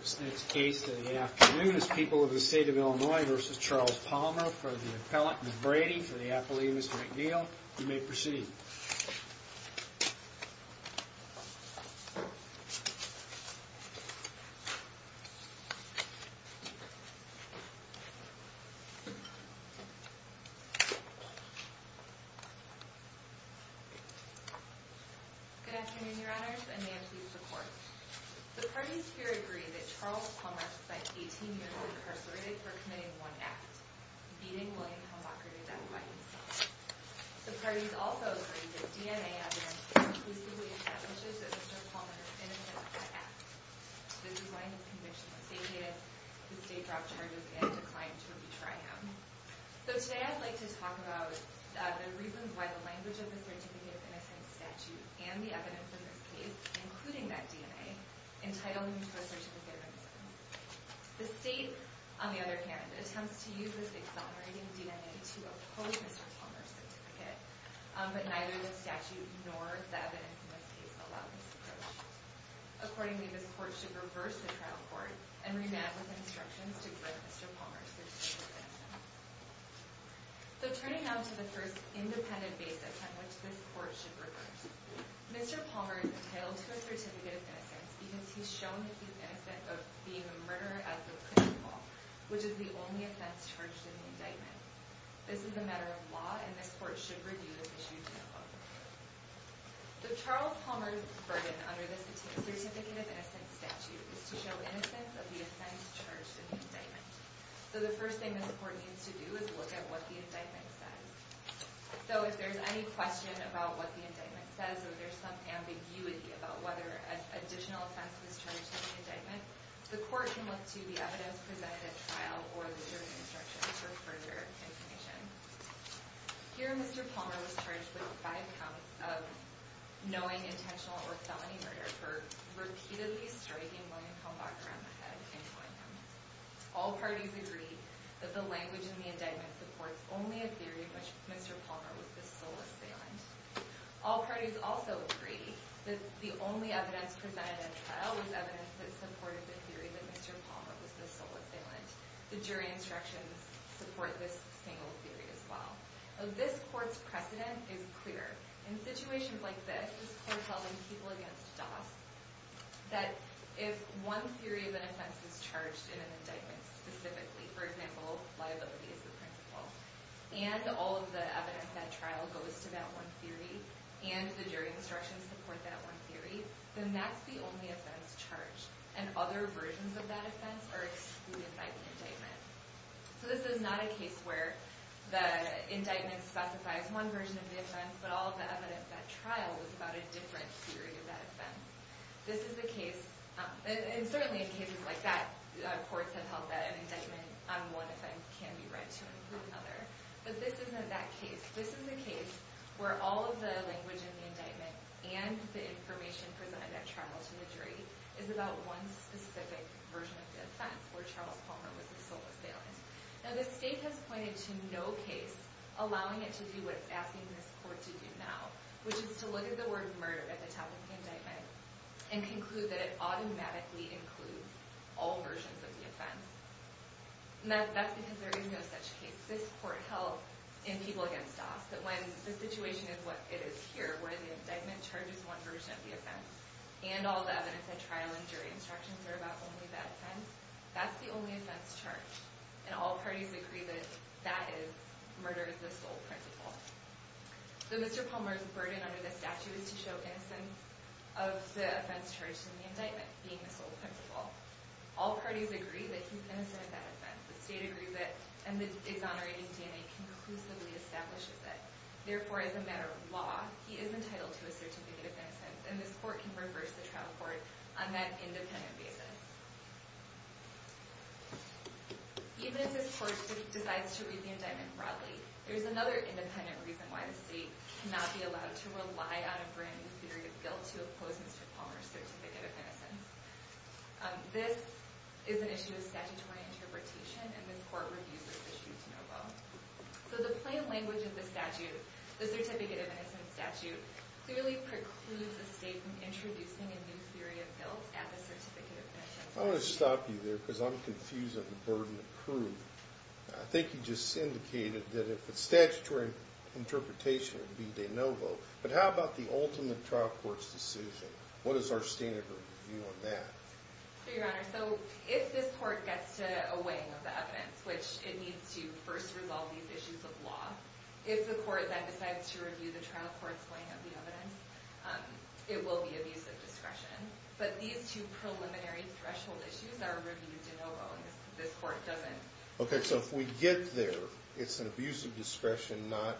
This next case in the afternoon is People of the State of Illinois v. Charles Palmer for the appellant, Ms. Brady, for the affiliates, Ms. McNeil. You may proceed. Good afternoon, your honors, and may I please report. The parties here agree that Charles Palmer spent 18 years incarcerated for committing one act, beating William Hellmacher to death by himself. The parties also agree that DNA evidence conclusively establishes that Mr. Palmer is innocent of that act. The design of the conviction was deviated, the state dropped charges, and declined to retry him. So today I'd like to talk about the reasons why the language of the Certificate of Innocence statute and the evidence in this case, including that DNA, entitle him to a certificate of innocence. The state, on the other hand, attempts to use this exonerating DNA to oppose Mr. Palmer's certificate, but neither the statute nor the evidence in this case allow this approach. Accordingly, this court should reverse the trial court and remand with instructions to grant Mr. Palmer a certificate of innocence. So turning now to the first independent basis on which this court should reverse, Mr. Palmer is entitled to a certificate of innocence because he's shown that he's innocent of being a murderer as the principal, which is the only offense charged in the indictment. This is a matter of law, and this court should review this issue to no avail. The Charles Palmer burden under the Certificate of Innocence statute is to show innocence of the offense charged in the indictment. So the first thing this court needs to do is look at what the indictment says. So if there's any question about what the indictment says or there's some ambiguity about whether an additional offense was charged in the indictment, the court can look to the evidence presented at trial or the jury instruction for further information. Here, Mr. Palmer was charged with five counts of knowing intentional or felony murder for repeatedly striking William Kumbach around the head and killing him. All parties agree that the language in the indictment supports only a theory that Mr. Palmer was the sole assailant. All parties also agree that the only evidence presented at trial was evidence that supported the theory that Mr. Palmer was the sole assailant. The jury instructions support this single theory as well. This court's precedent is clear. In situations like this, this court held in People v. Doss, that if one theory of an offense is charged in an indictment specifically, for example, liability as the principal, and all of the evidence at trial goes to that one theory, and the jury instructions support that one theory, then that's the only offense charged. And other versions of that offense are excluded by the indictment. So this is not a case where the indictment specifies one version of the offense, but all of the evidence at trial is about a different theory of that offense. And certainly in cases like that, courts have held that an indictment on one offense can be read to another. But this isn't that case. This is a case where all of the language in the indictment and the information presented at trial to the jury is about one specific version of the offense, where Charles Palmer was the sole assailant. Now, the state has pointed to no case allowing it to do what it's asking this court to do now, which is to look at the word murder at the top of the indictment and conclude that it automatically includes all versions of the offense. And that's because there is no such case. This court held in People v. Doss that when the situation is what it is here, where the indictment charges one version of the offense and all the evidence at trial and jury instructions are about only that offense, that's the only offense charged. And all parties agree that that is murder as the sole principle. So Mr. Palmer's burden under the statute is to show innocence of the offense charged in the indictment being the sole principle. All parties agree that he's innocent of that offense. The state agrees it, and the exonerating DNA conclusively establishes it. Even if this court decides to read the indictment broadly, there's another independent reason why the state cannot be allowed to rely on a brand new theory of guilt to oppose Mr. Palmer's certificate of innocence. This is an issue of statutory interpretation, and this court reviews this issue to no vote. So the plain language of the statute, the certificate of innocence statute, clearly precludes the state from introducing a new theory of guilt at the certificate of innocence. I want to stop you there because I'm confused on the burden of proof. I think you just indicated that if it's statutory interpretation, it would be de novo. But how about the ultimate trial court's decision? What is our standard of review on that? Your Honor, so if this court gets to a weighing of the evidence, which it needs to first resolve these issues of law, if the court then decides to review the trial court's weighing of the evidence, it will be abusive discretion. But these two preliminary threshold issues are reviewed de novo, and this court doesn't. Okay, so if we get there, it's an abusive discretion, not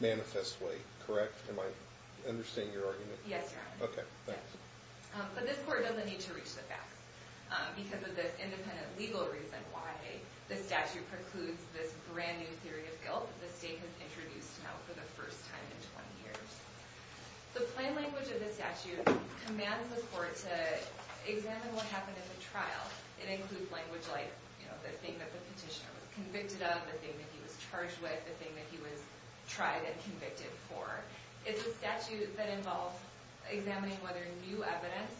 manifest weight, correct? Am I understanding your argument? Yes, Your Honor. Okay, thanks. But this court doesn't need to reach the facts because of this independent legal reason why the statute precludes this brand new theory of guilt that the state has introduced now for the first time in 20 years. The plain language of the statute commands the court to examine what happened in the trial. It includes language like the thing that the petitioner was convicted of, the thing that he was charged with, the thing that he was tried and convicted for. It's a statute that involves examining whether new evidence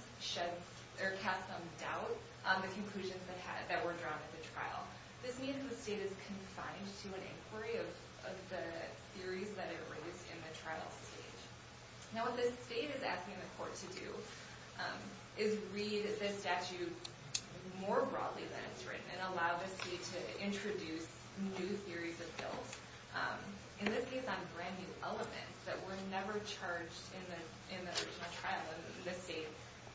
casts some doubt on the conclusions that were drawn at the trial. This means the state is confined to an inquiry of the theories that it raised in the trial stage. Now, what the state is asking the court to do is read this statute more broadly than it's written and allow the state to introduce new theories of guilt. In this case on brand new elements that were never charged in the original trial and the state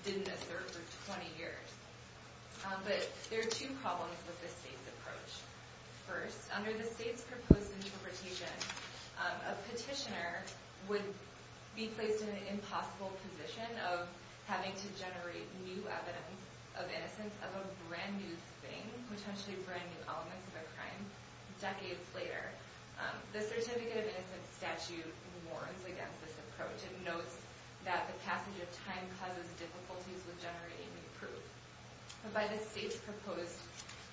didn't assert for 20 years. But there are two problems with this state's approach. First, under the state's proposed interpretation, a petitioner would be placed in an impossible position of having to generate new evidence of innocence of a brand new thing, potentially brand new elements of a crime decades later. The Certificate of Innocence statute warns against this approach. It notes that the passage of time causes difficulties with generating new proof. But by the state's proposed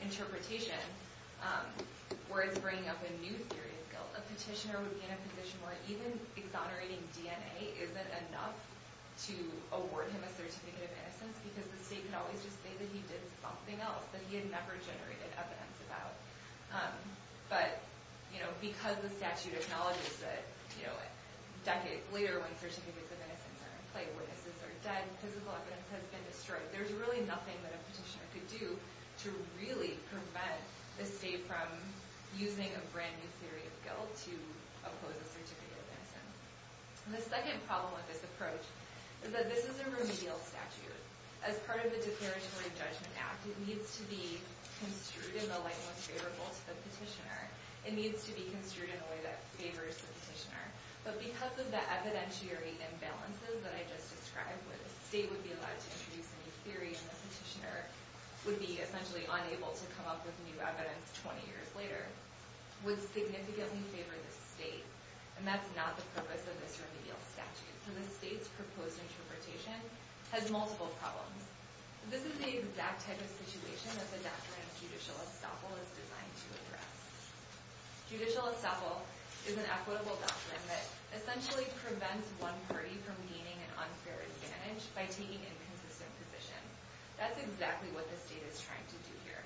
interpretation, where it's bringing up a new theory of guilt, a petitioner would be in a position where even exonerating DNA isn't enough to award him a Certificate of Innocence because the state could always just say that he did something else that he had never generated evidence about. But because the statute acknowledges that decades later when Certificates of Innocence are in play, witnesses are dead, physical evidence has been destroyed, there's really nothing that a petitioner could do to really prevent the state from using a brand new theory of guilt to oppose a Certificate of Innocence. The second problem with this approach is that this is a remedial statute. As part of the Declaratory Judgment Act, it needs to be construed in the language favorable to the petitioner. It needs to be construed in a way that favors the petitioner. But because of the evidentiary imbalances that I just described, where the state would be allowed to introduce a new theory and the petitioner would be essentially unable to come up with new evidence 20 years later, would significantly favor the state. And that's not the purpose of this remedial statute. So the state's proposed interpretation has multiple problems. This is the exact type of situation that the doctrine of judicial estoppel is designed to address. Judicial estoppel is an equitable doctrine that essentially prevents one party from gaining an unfair advantage by taking inconsistent positions. That's exactly what the state is trying to do here.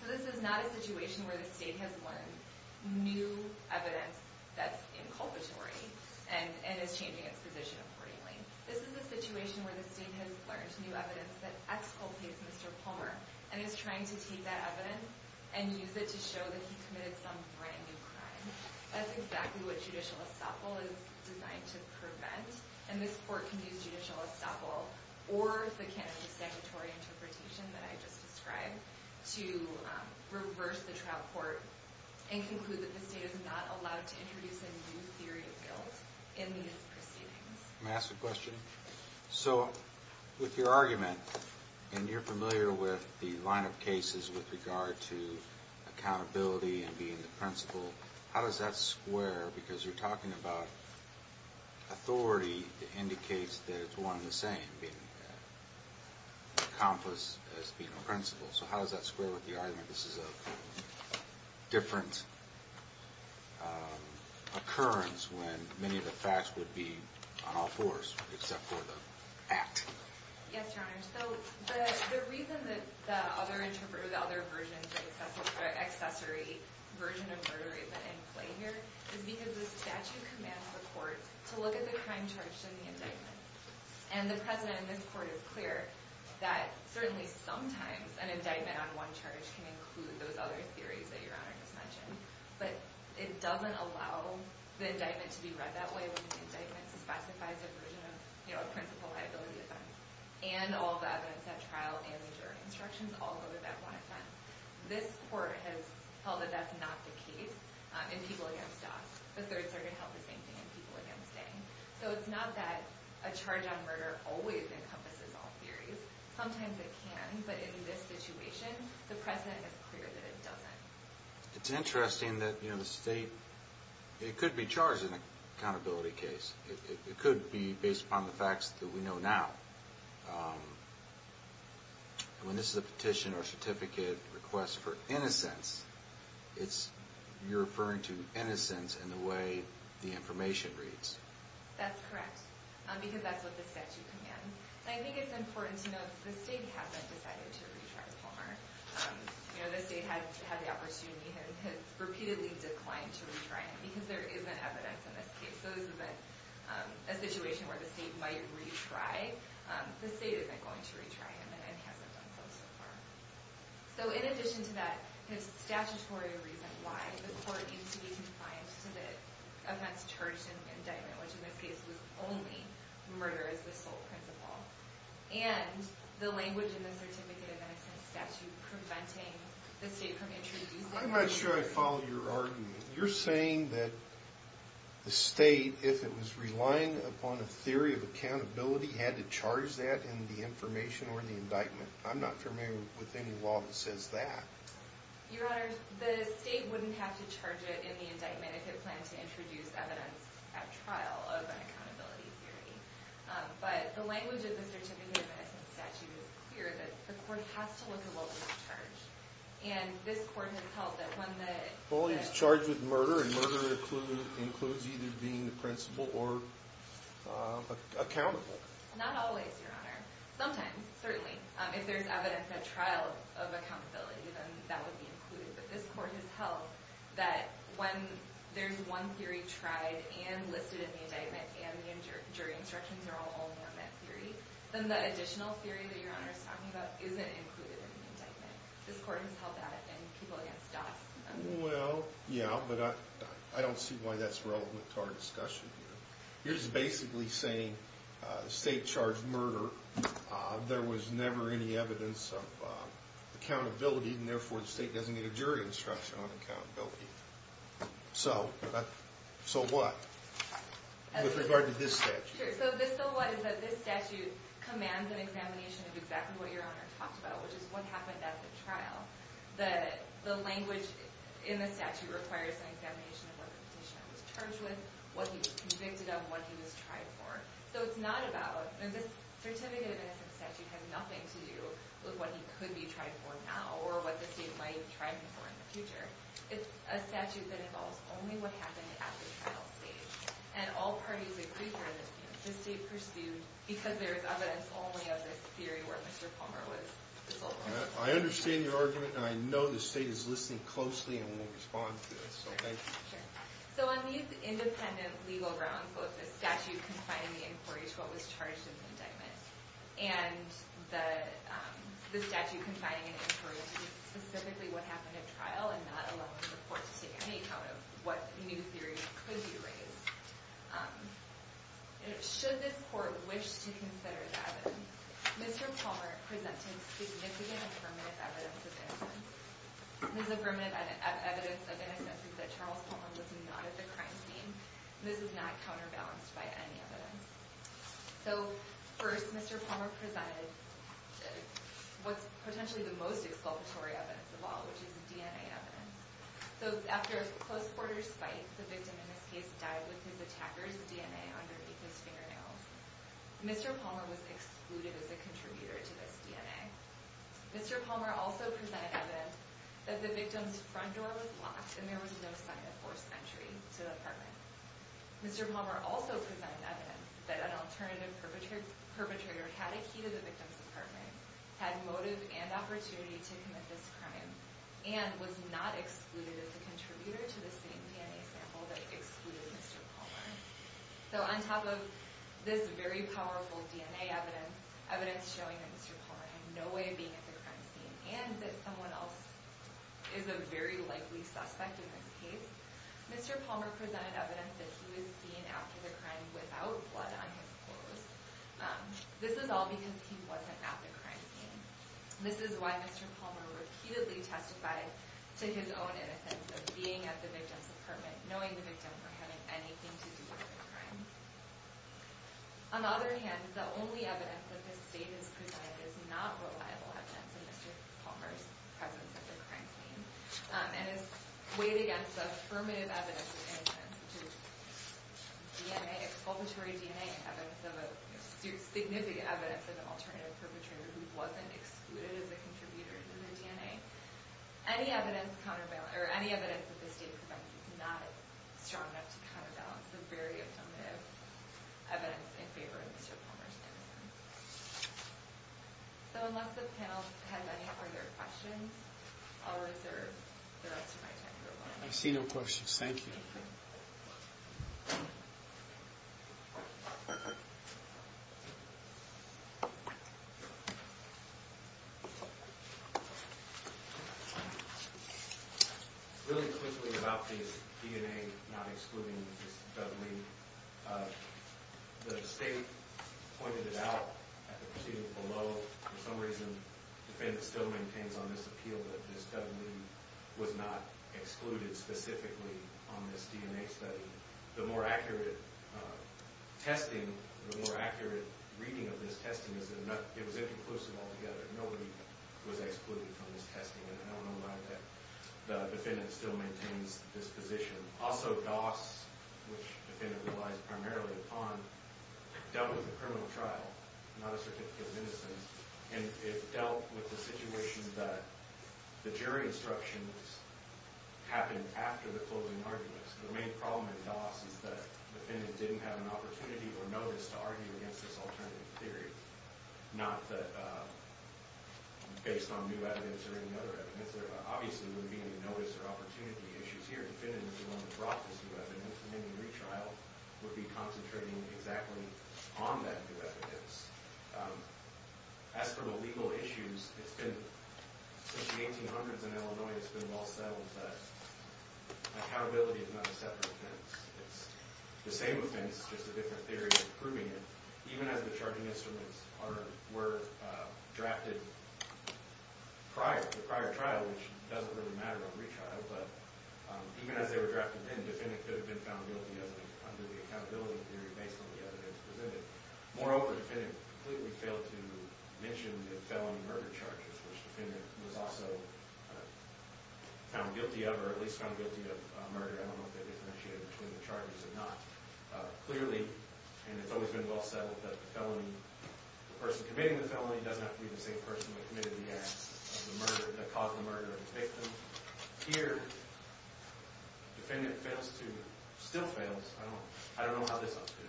So this is not a situation where the state has learned new evidence that's inculpatory and is changing its position accordingly. This is a situation where the state has learned new evidence that exculpates Mr. Palmer and is trying to take that evidence and use it to show that he committed some brand new crime. That's exactly what judicial estoppel is designed to prevent. And this court can use judicial estoppel or the candidate's sanctuary interpretation that I just described to reverse the trial court and conclude that the state is not allowed to introduce a new theory of guilt in these proceedings. May I ask a question? So with your argument, and you're familiar with the line of cases with regard to accountability and being the principal, how does that square? Because you're talking about authority that indicates that it's one and the same, being an accomplice as being a principal. So how does that square with the argument this is a different occurrence when many of the facts would be on all fours except for the act? Yes, Your Honor. So the reason that the other version of the accessory version of murder is in play here is because the statute commands the court to look at the crime charged in the indictment. And the precedent in this court is clear that certainly sometimes an indictment on one charge can include those other theories that Your Honor just mentioned. But it doesn't allow the indictment to be read that way when the indictment specifies a version of a principal liability offense. And all the evidence at trial and the jury instructions all go to that one offense. This court has held that that's not the case in people against Doss. The Third Circuit held the same thing in people against Dang. So it's not that a charge on murder always encompasses all theories. Sometimes it can. But in this situation, the precedent is clear that it doesn't. It's interesting that, you know, the state – it could be charged in an accountability case. It could be based upon the facts that we know now. When this is a petition or certificate request for innocence, it's – you're referring to innocence in the way the information reads. That's correct because that's what the statute commands. And I think it's important to note that the state hasn't decided to retry Palmer. You know, the state has had the opportunity and has repeatedly declined to retry him because there isn't evidence in this case. So this is a situation where the state might retry. The state isn't going to retry him and hasn't done so so far. So in addition to that, his statutory reason why the court needs to be compliant to the offense charged in indictment, which in this case was only murder as the sole principle, and the language in the certificate of innocence statute preventing the state from introducing – I'm not sure I follow your argument. You're saying that the state, if it was relying upon a theory of accountability, had to charge that in the information or in the indictment. I'm not familiar with any law that says that. Your Honor, the state wouldn't have to charge it in the indictment if it planned to introduce evidence at trial of an accountability theory. But the language of the certificate of innocence statute is clear that the court has to look at what was charged. And this court has held that when the – Well, he was charged with murder, and murder includes either being the principle or accountable. Not always, Your Honor. Sometimes, certainly. If there's evidence at trial of accountability, then that would be included. But this court has held that when there's one theory tried and listed in the indictment and the jury instructions are all on that theory, then the additional theory that Your Honor is talking about isn't included in the indictment. This court has held that, and people against us. Well, yeah, but I don't see why that's relevant to our discussion here. You're just basically saying the state charged murder. There was never any evidence of accountability, and therefore the state doesn't get a jury instruction on accountability. So, what? With regard to this statute. Sure. So this bill, what, is that this statute commands an examination of exactly what Your Honor talked about, which is what happened at the trial. The language in the statute requires an examination of what the petitioner was charged with, what he was convicted of, what he was tried for. So it's not about – and this certificate of innocence statute has nothing to do with what he could be tried for now, or what the state might try him for in the future. It's a statute that involves only what happened at the trial stage. And all parties agree here that the state pursued because there is evidence only of this theory where Mr. Palmer was assaulted. I understand your argument, and I know the state is listening closely and will respond to it. So thank you. Sure. So on these independent legal grounds, both the statute confining the inquiry to what was charged in the indictment, and the statute confining an inquiry to specifically what happened at trial, and not allowing the court to take any account of what new theories could be raised. Should this court wish to consider the evidence, Mr. Palmer presented significant and permanent evidence of innocence. This is a permanent evidence of innocence that Charles Palmer was not at the crime scene. This is not counterbalanced by any evidence. So first, Mr. Palmer presented what's potentially the most exculpatory evidence of all, which is DNA evidence. So after a close-quarters fight, the victim in this case died with his attacker's DNA underneath his fingernails. Mr. Palmer was excluded as a contributor to this DNA. Mr. Palmer also presented evidence that the victim's front door was locked and there was no sign of forced entry to the apartment. Mr. Palmer also presented evidence that an alternative perpetrator had a key to the victim's apartment, had motive and opportunity to commit this crime, and was not excluded as a contributor to the same DNA sample that excluded Mr. Palmer. So on top of this very powerful DNA evidence, evidence showing that Mr. Palmer had no way of being at the crime scene, and that someone else is a very likely suspect in this case, Mr. Palmer presented evidence that he was seen after the crime without blood on his clothes. This is all because he wasn't at the crime scene. This is why Mr. Palmer repeatedly testified to his own innocence of being at the victim's apartment, knowing the victim for having anything to do with the crime. On the other hand, the only evidence that this state has presented is not reliable evidence of Mr. Palmer's presence at the crime scene, and is weighed against the affirmative evidence of innocence, which is exculpatory DNA evidence of a significant evidence of an alternative perpetrator who wasn't excluded as a contributor to the DNA. Any evidence that this state presents is not strong enough to counterbalance the very affirmative evidence in favor of Mr. Palmer's innocence. So unless the panel has any other questions, I'll reserve the rest of my time. I see no questions. Thank you. Thank you. Really quickly about this DNA not excluding this Dudley, the state pointed it out at the proceeding below. For some reason, the defendant still maintains on this appeal that this Dudley was not excluded specifically on this DNA study. The more accurate testing, the more accurate reading of this testing is that it was inconclusive altogether. Nobody was excluded from this testing, and I don't know why the defendant still maintains this position. Also, DOS, which the defendant relies primarily upon, dealt with the criminal trial, not a certificate of innocence, and it dealt with the situation that the jury instructions happened after the closing arguments. The main problem in DOS is that the defendant didn't have an opportunity or notice to argue against this alternative theory, not based on new evidence or any other evidence. There obviously wouldn't be any notice or opportunity issues here. The defendant would have brought this new evidence, and then the retrial would be concentrating exactly on that new evidence. As for the legal issues, it's been – since the 1800s in Illinois, it's been well settled that accountability is not a separate offense. It's the same offense, it's just a different theory of proving it. Even as the charging instruments were drafted prior to the prior trial, which doesn't really matter on retrial, but even as they were drafted then, the defendant could have been found guilty under the accountability theory based on the evidence presented. Moreover, the defendant completely failed to mention the felony murder charges, which the defendant was also found guilty of, or at least found guilty of murder. I don't know if that differentiated between the charges or not. Clearly, and it's always been well settled, that the person committing the felony doesn't have to be the same person that committed the act of the murder – that caused the murder of the victim. Here, the defendant fails to – still fails. I don't know how this one's good.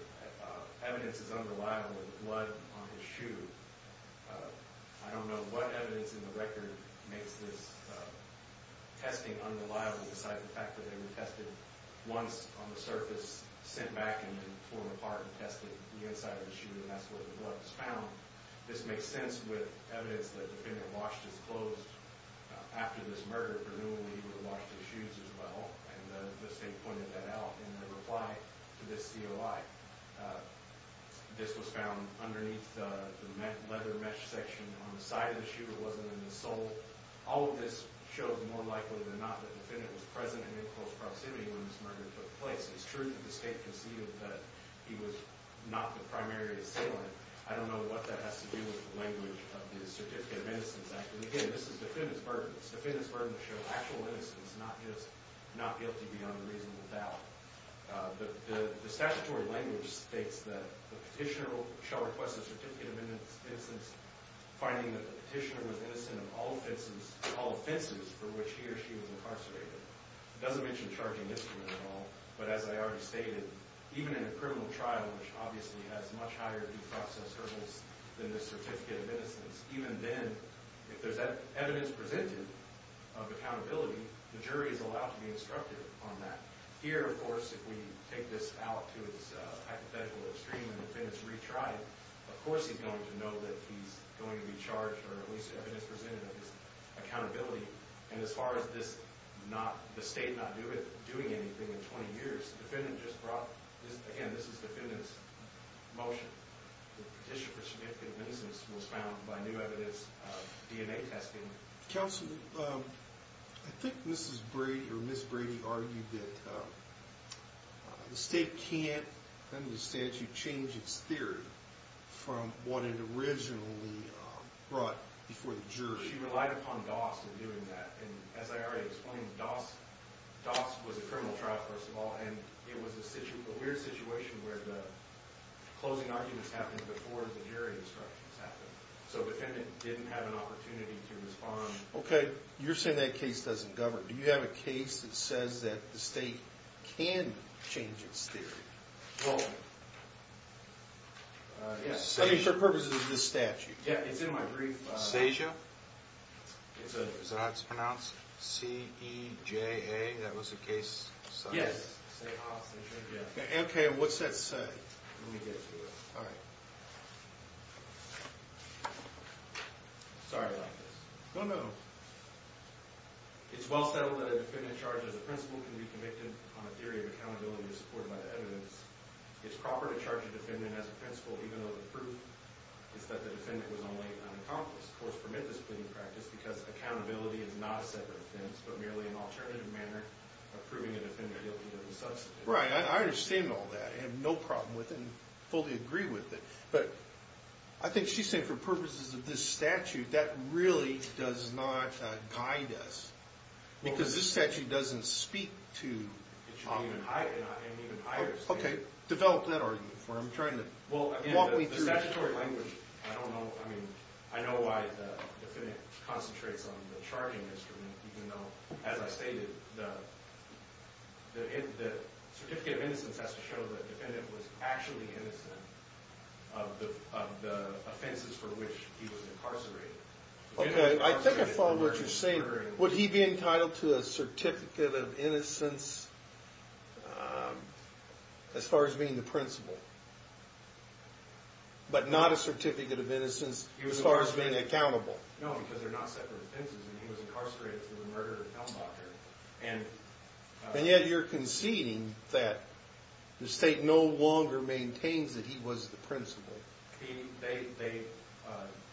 Evidence is unreliable with blood on his shoe. I don't know what evidence in the record makes this testing unreliable, besides the fact that they were tested once on the surface, sent back, and then torn apart and tested the inside of the shoe, and that's where the blood was found. This makes sense with evidence that the defendant washed his clothes after this murder, presumably he would have washed his shoes as well, and the state pointed that out in their reply to this COI. This was found underneath the leather mesh section on the side of the shoe. It wasn't in the sole. All of this shows, more likely than not, that the defendant was present and in close proximity when this murder took place. It's true that the state conceded that he was not the primary assailant. I don't know what that has to do with the language of the Certificate of Innocence Act. And again, this is defendant's burden. It's the defendant's burden to show actual innocence, not just not guilty beyond a reasonable doubt. The statutory language states that the petitioner shall request a Certificate of Innocence, finding that the petitioner was innocent of all offenses for which he or she was incarcerated. It doesn't mention charging misdemeanor at all, but as I already stated, even in a criminal trial, which obviously has much higher defense intervals than the Certificate of Innocence, even then, if there's evidence presented of accountability, the jury is allowed to be instructive on that. Here, of course, if we take this out to its hypothetical extreme and the defendant's retried, of course he's going to know that he's going to be charged or at least evidence presented of his accountability. And as far as the state not doing anything in 20 years, the defendant just brought this. Again, this is the defendant's motion. The petition for Certificate of Innocence was found by new evidence of DNA testing. Counsel, I think Mrs. Brady or Ms. Brady argued that the state can't understand to change its theory from what it originally brought before the jury. She relied upon Doss in doing that. And as I already explained, Doss was a criminal trial, first of all, and it was a weird situation where the closing arguments happened before the jury instructions happened. So the defendant didn't have an opportunity to respond. Okay, you're saying that case doesn't govern. Do you have a case that says that the state can change its theory? Well, yes. I mean, for purposes of this statute. Yeah, it's in my brief. Seja? Is that how it's pronounced? C-E-J-A? That was the case? Yes. Okay, what's that say? Let me get to it. All right. Sorry about this. Oh, no. It's well settled that a defendant charged as a principal can be convicted on a theory of accountability supported by the evidence. It's proper to charge a defendant as a principal even though the proof is that the defendant was only an accomplice. Of course, for Memphis pleading practice, because accountability is not a separate offense but merely an alternative manner of proving a defendant guilty of the substance. Right, I understand all that. I have no problem with it and fully agree with it. But I think she's saying for purposes of this statute, that really does not guide us. Because this statute doesn't speak to an even higher standard. Okay, develop that argument for me. The statutory language, I don't know. I mean, I know why the defendant concentrates on the charging instrument even though, as I stated, the certificate of innocence has to show that the defendant was actually innocent of the offenses for which he was incarcerated. Okay, I think I follow what you're saying. Would he be entitled to a certificate of innocence as far as being the principal? But not a certificate of innocence as far as being accountable? No, because they're not separate offenses and he was incarcerated through the murder of Helmbacher. And yet you're conceding that the state no longer maintains that he was the principal.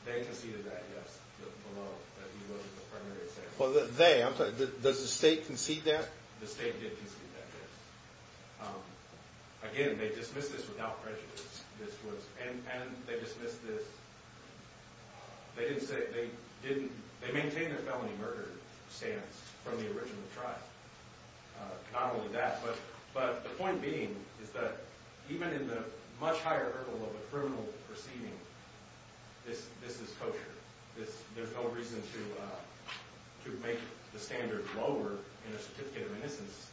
They conceded that, yes, that he was the primary assailant. They? Does the state concede that? The state did concede that, yes. Again, they dismissed this without prejudice. And they dismissed this? They didn't say they didn't? They maintain their felony murder stance from the original trial. Not only that, but the point being is that even in the much higher level of a criminal proceeding, this is kosher. There's no reason to make the standard lower in a certificate of innocence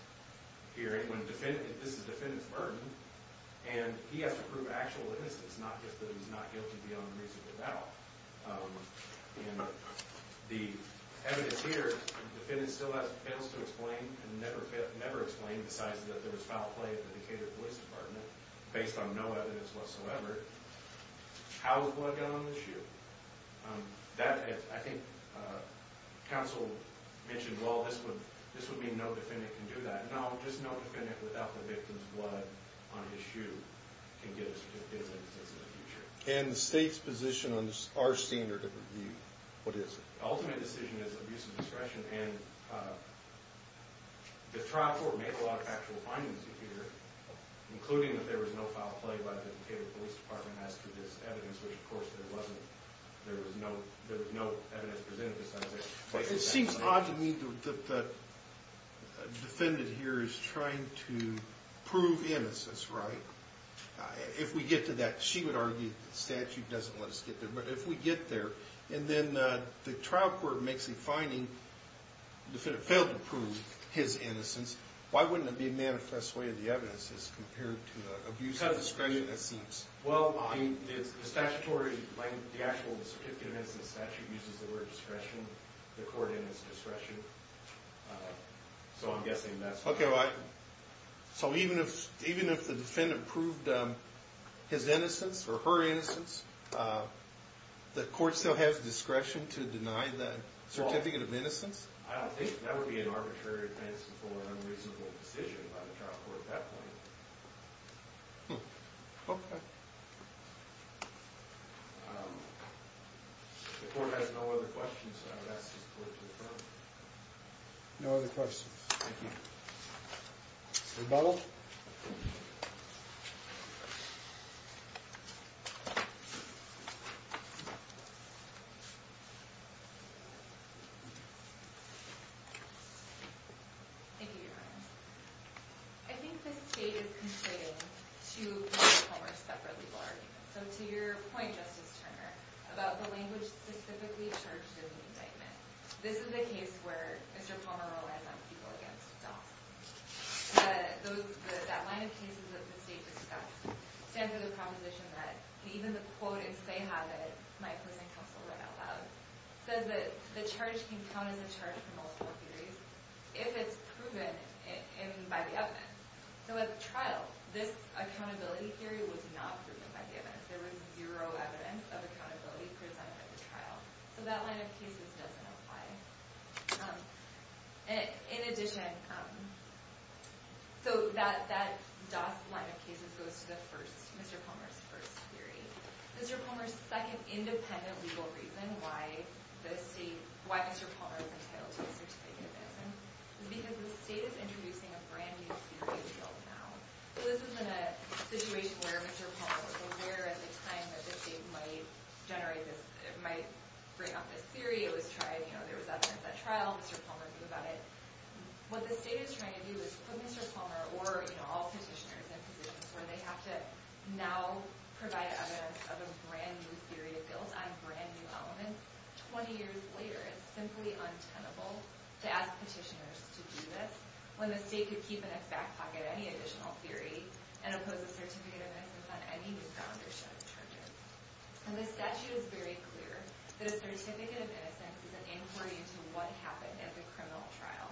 hearing when this is the defendant's burden. And he has to prove actual innocence, not just that he's not guilty beyond reasonable doubt. And the evidence here, the defendant still fails to explain and never explained besides that there was foul play at the Decatur Police Department based on no evidence whatsoever. How was blood gotten on the shoe? I think counsel mentioned, well, this would mean no defendant can do that. No, just no defendant without the victim's blood on his shoe can get a certificate of innocence in the future. And the state's position on our standard of review, what is it? The ultimate decision is abuse of discretion. And the trial court may pull out actual findings here, including that there was no foul play by the Decatur Police Department as to this evidence, which, of course, there wasn't. There was no evidence presented besides that. It seems odd to me that the defendant here is trying to prove innocence, right? If we get to that, she would argue the statute doesn't let us get there. But if we get there and then the trial court makes a finding, the defendant failed to prove his innocence, why wouldn't it be a manifest way of the evidence as compared to abuse of discretion? Well, the statutory, the actual certificate of innocence statute uses the word discretion, the court in its discretion. So I'm guessing that's why. So even if the defendant proved his innocence or her innocence, the court still has discretion to deny that certificate of innocence? I don't think that would be an arbitrary, fanciful, or unreasonable decision by the trial court at that point. Okay. The court has no other questions, so I would ask this court to adjourn. No other questions. Thank you. Rebuttal? Thank you, Your Honor. I think the state is contributing to Mr. Palmer's separate legal argument. So to your point, Justice Turner, about the language specifically charged in the indictment, this is a case where Mr. Palmer relies on people against dogs. That line of cases that the state discussed stands for the proposition that even the quotas they have, that my opposing counsel read out loud, says that the charge can count as a charge for multiple theories if it's proven by the evidence. So at the trial, this accountability theory was not proven by the evidence. There was zero evidence of accountability presented at the trial. So that line of cases doesn't apply. In addition, that DoS line of cases goes to Mr. Palmer's first theory. Mr. Palmer's second independent legal reason why Mr. Palmer is entitled to a certificate of innocence is because the state is introducing a brand new theory to the bill now. So this is in a situation where Mr. Palmer was aware at the time that the state might generate this, might bring up this theory. It was trying, you know, there was evidence at trial. Mr. Palmer knew about it. What the state is trying to do is put Mr. Palmer or, you know, all petitioners in positions where they have to now provide evidence of a brand new theory to bills on brand new elements 20 years later. It's simply untenable to ask petitioners to do this when the state could keep in its back pocket any additional theory and impose a certificate of innocence on any new foundership charges. And the statute is very clear that a certificate of innocence is an inquiry into what happened at the criminal trial.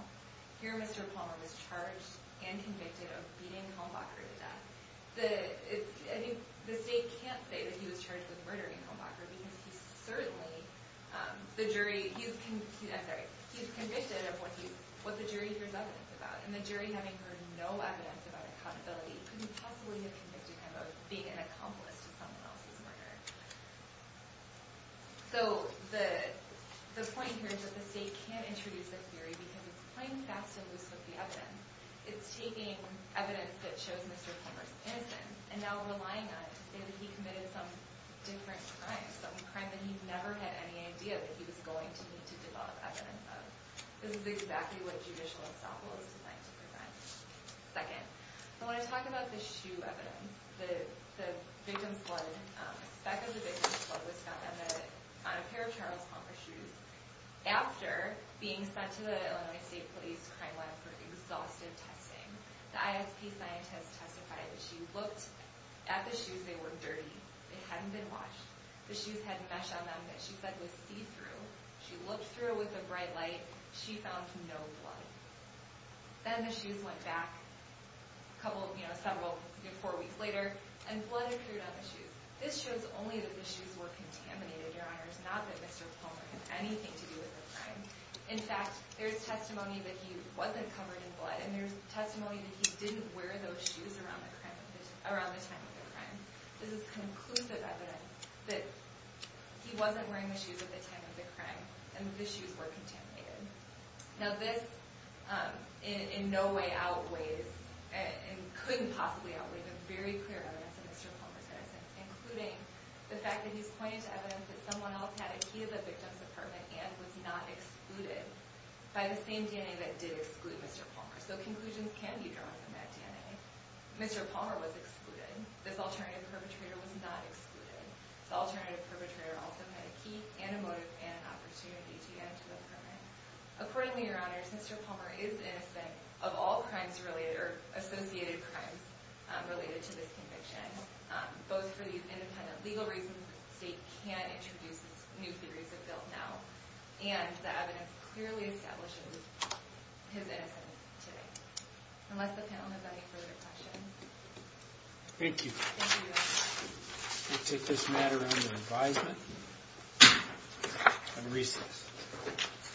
Here, Mr. Palmer was charged and convicted of beating Hombacher to death. The state can't say that he was charged with murdering Hombacher because he certainly, the jury, he's convicted of what the jury hears evidence about. And the jury having heard no evidence about accountability couldn't possibly have convicted him of being an accomplice to someone else's murder. So the point here is that the state can't introduce a theory because it's playing fast and loose with the evidence. It's taking evidence that shows Mr. Palmer's innocence and now relying on it to say that he committed some different crime, some crime that he never had any idea that he was going to need to develop evidence of. This is exactly what judicial estoppel is designed to prevent. Second, I want to talk about the shoe evidence. The victim's blood, a speck of the victim's blood was found on a pair of Charles Palmer shoes after being sent to the Illinois State Police Crime Lab for exhaustive testing. The ISP scientist testified that she looked at the shoes. They were dirty. They hadn't been washed. The shoes had mesh on them that she said was see-through. She looked through with a bright light. She found no blood. Then the shoes went back several weeks later and blood appeared on the shoes. This shows only that the shoes were contaminated, Your Honors, not that Mr. Palmer had anything to do with the crime. In fact, there's testimony that he wasn't covered in blood and there's testimony that he didn't wear those shoes around the time of the crime. This is conclusive evidence that he wasn't wearing the shoes at the time of the crime and the shoes were contaminated. Now this in no way outweighs and couldn't possibly outweigh the very clear evidence of Mr. Palmer's innocence, including the fact that he's pointed to evidence that someone else had a key to the victim's apartment and was not excluded by the same DNA that did exclude Mr. Palmer. So conclusions can be drawn from that DNA. Mr. Palmer was excluded. This alternative perpetrator was not excluded. The alternative perpetrator also had a key and a motive and an opportunity to get into the apartment. Accordingly, Your Honors, Mr. Palmer is innocent of all crimes related or associated crimes related to this conviction, both for these independent legal reasons the state can't introduce new theories of guilt now, and the evidence clearly establishes his innocence today. Unless the panel has any further questions. Thank you. We'll take this matter under advisement and recess.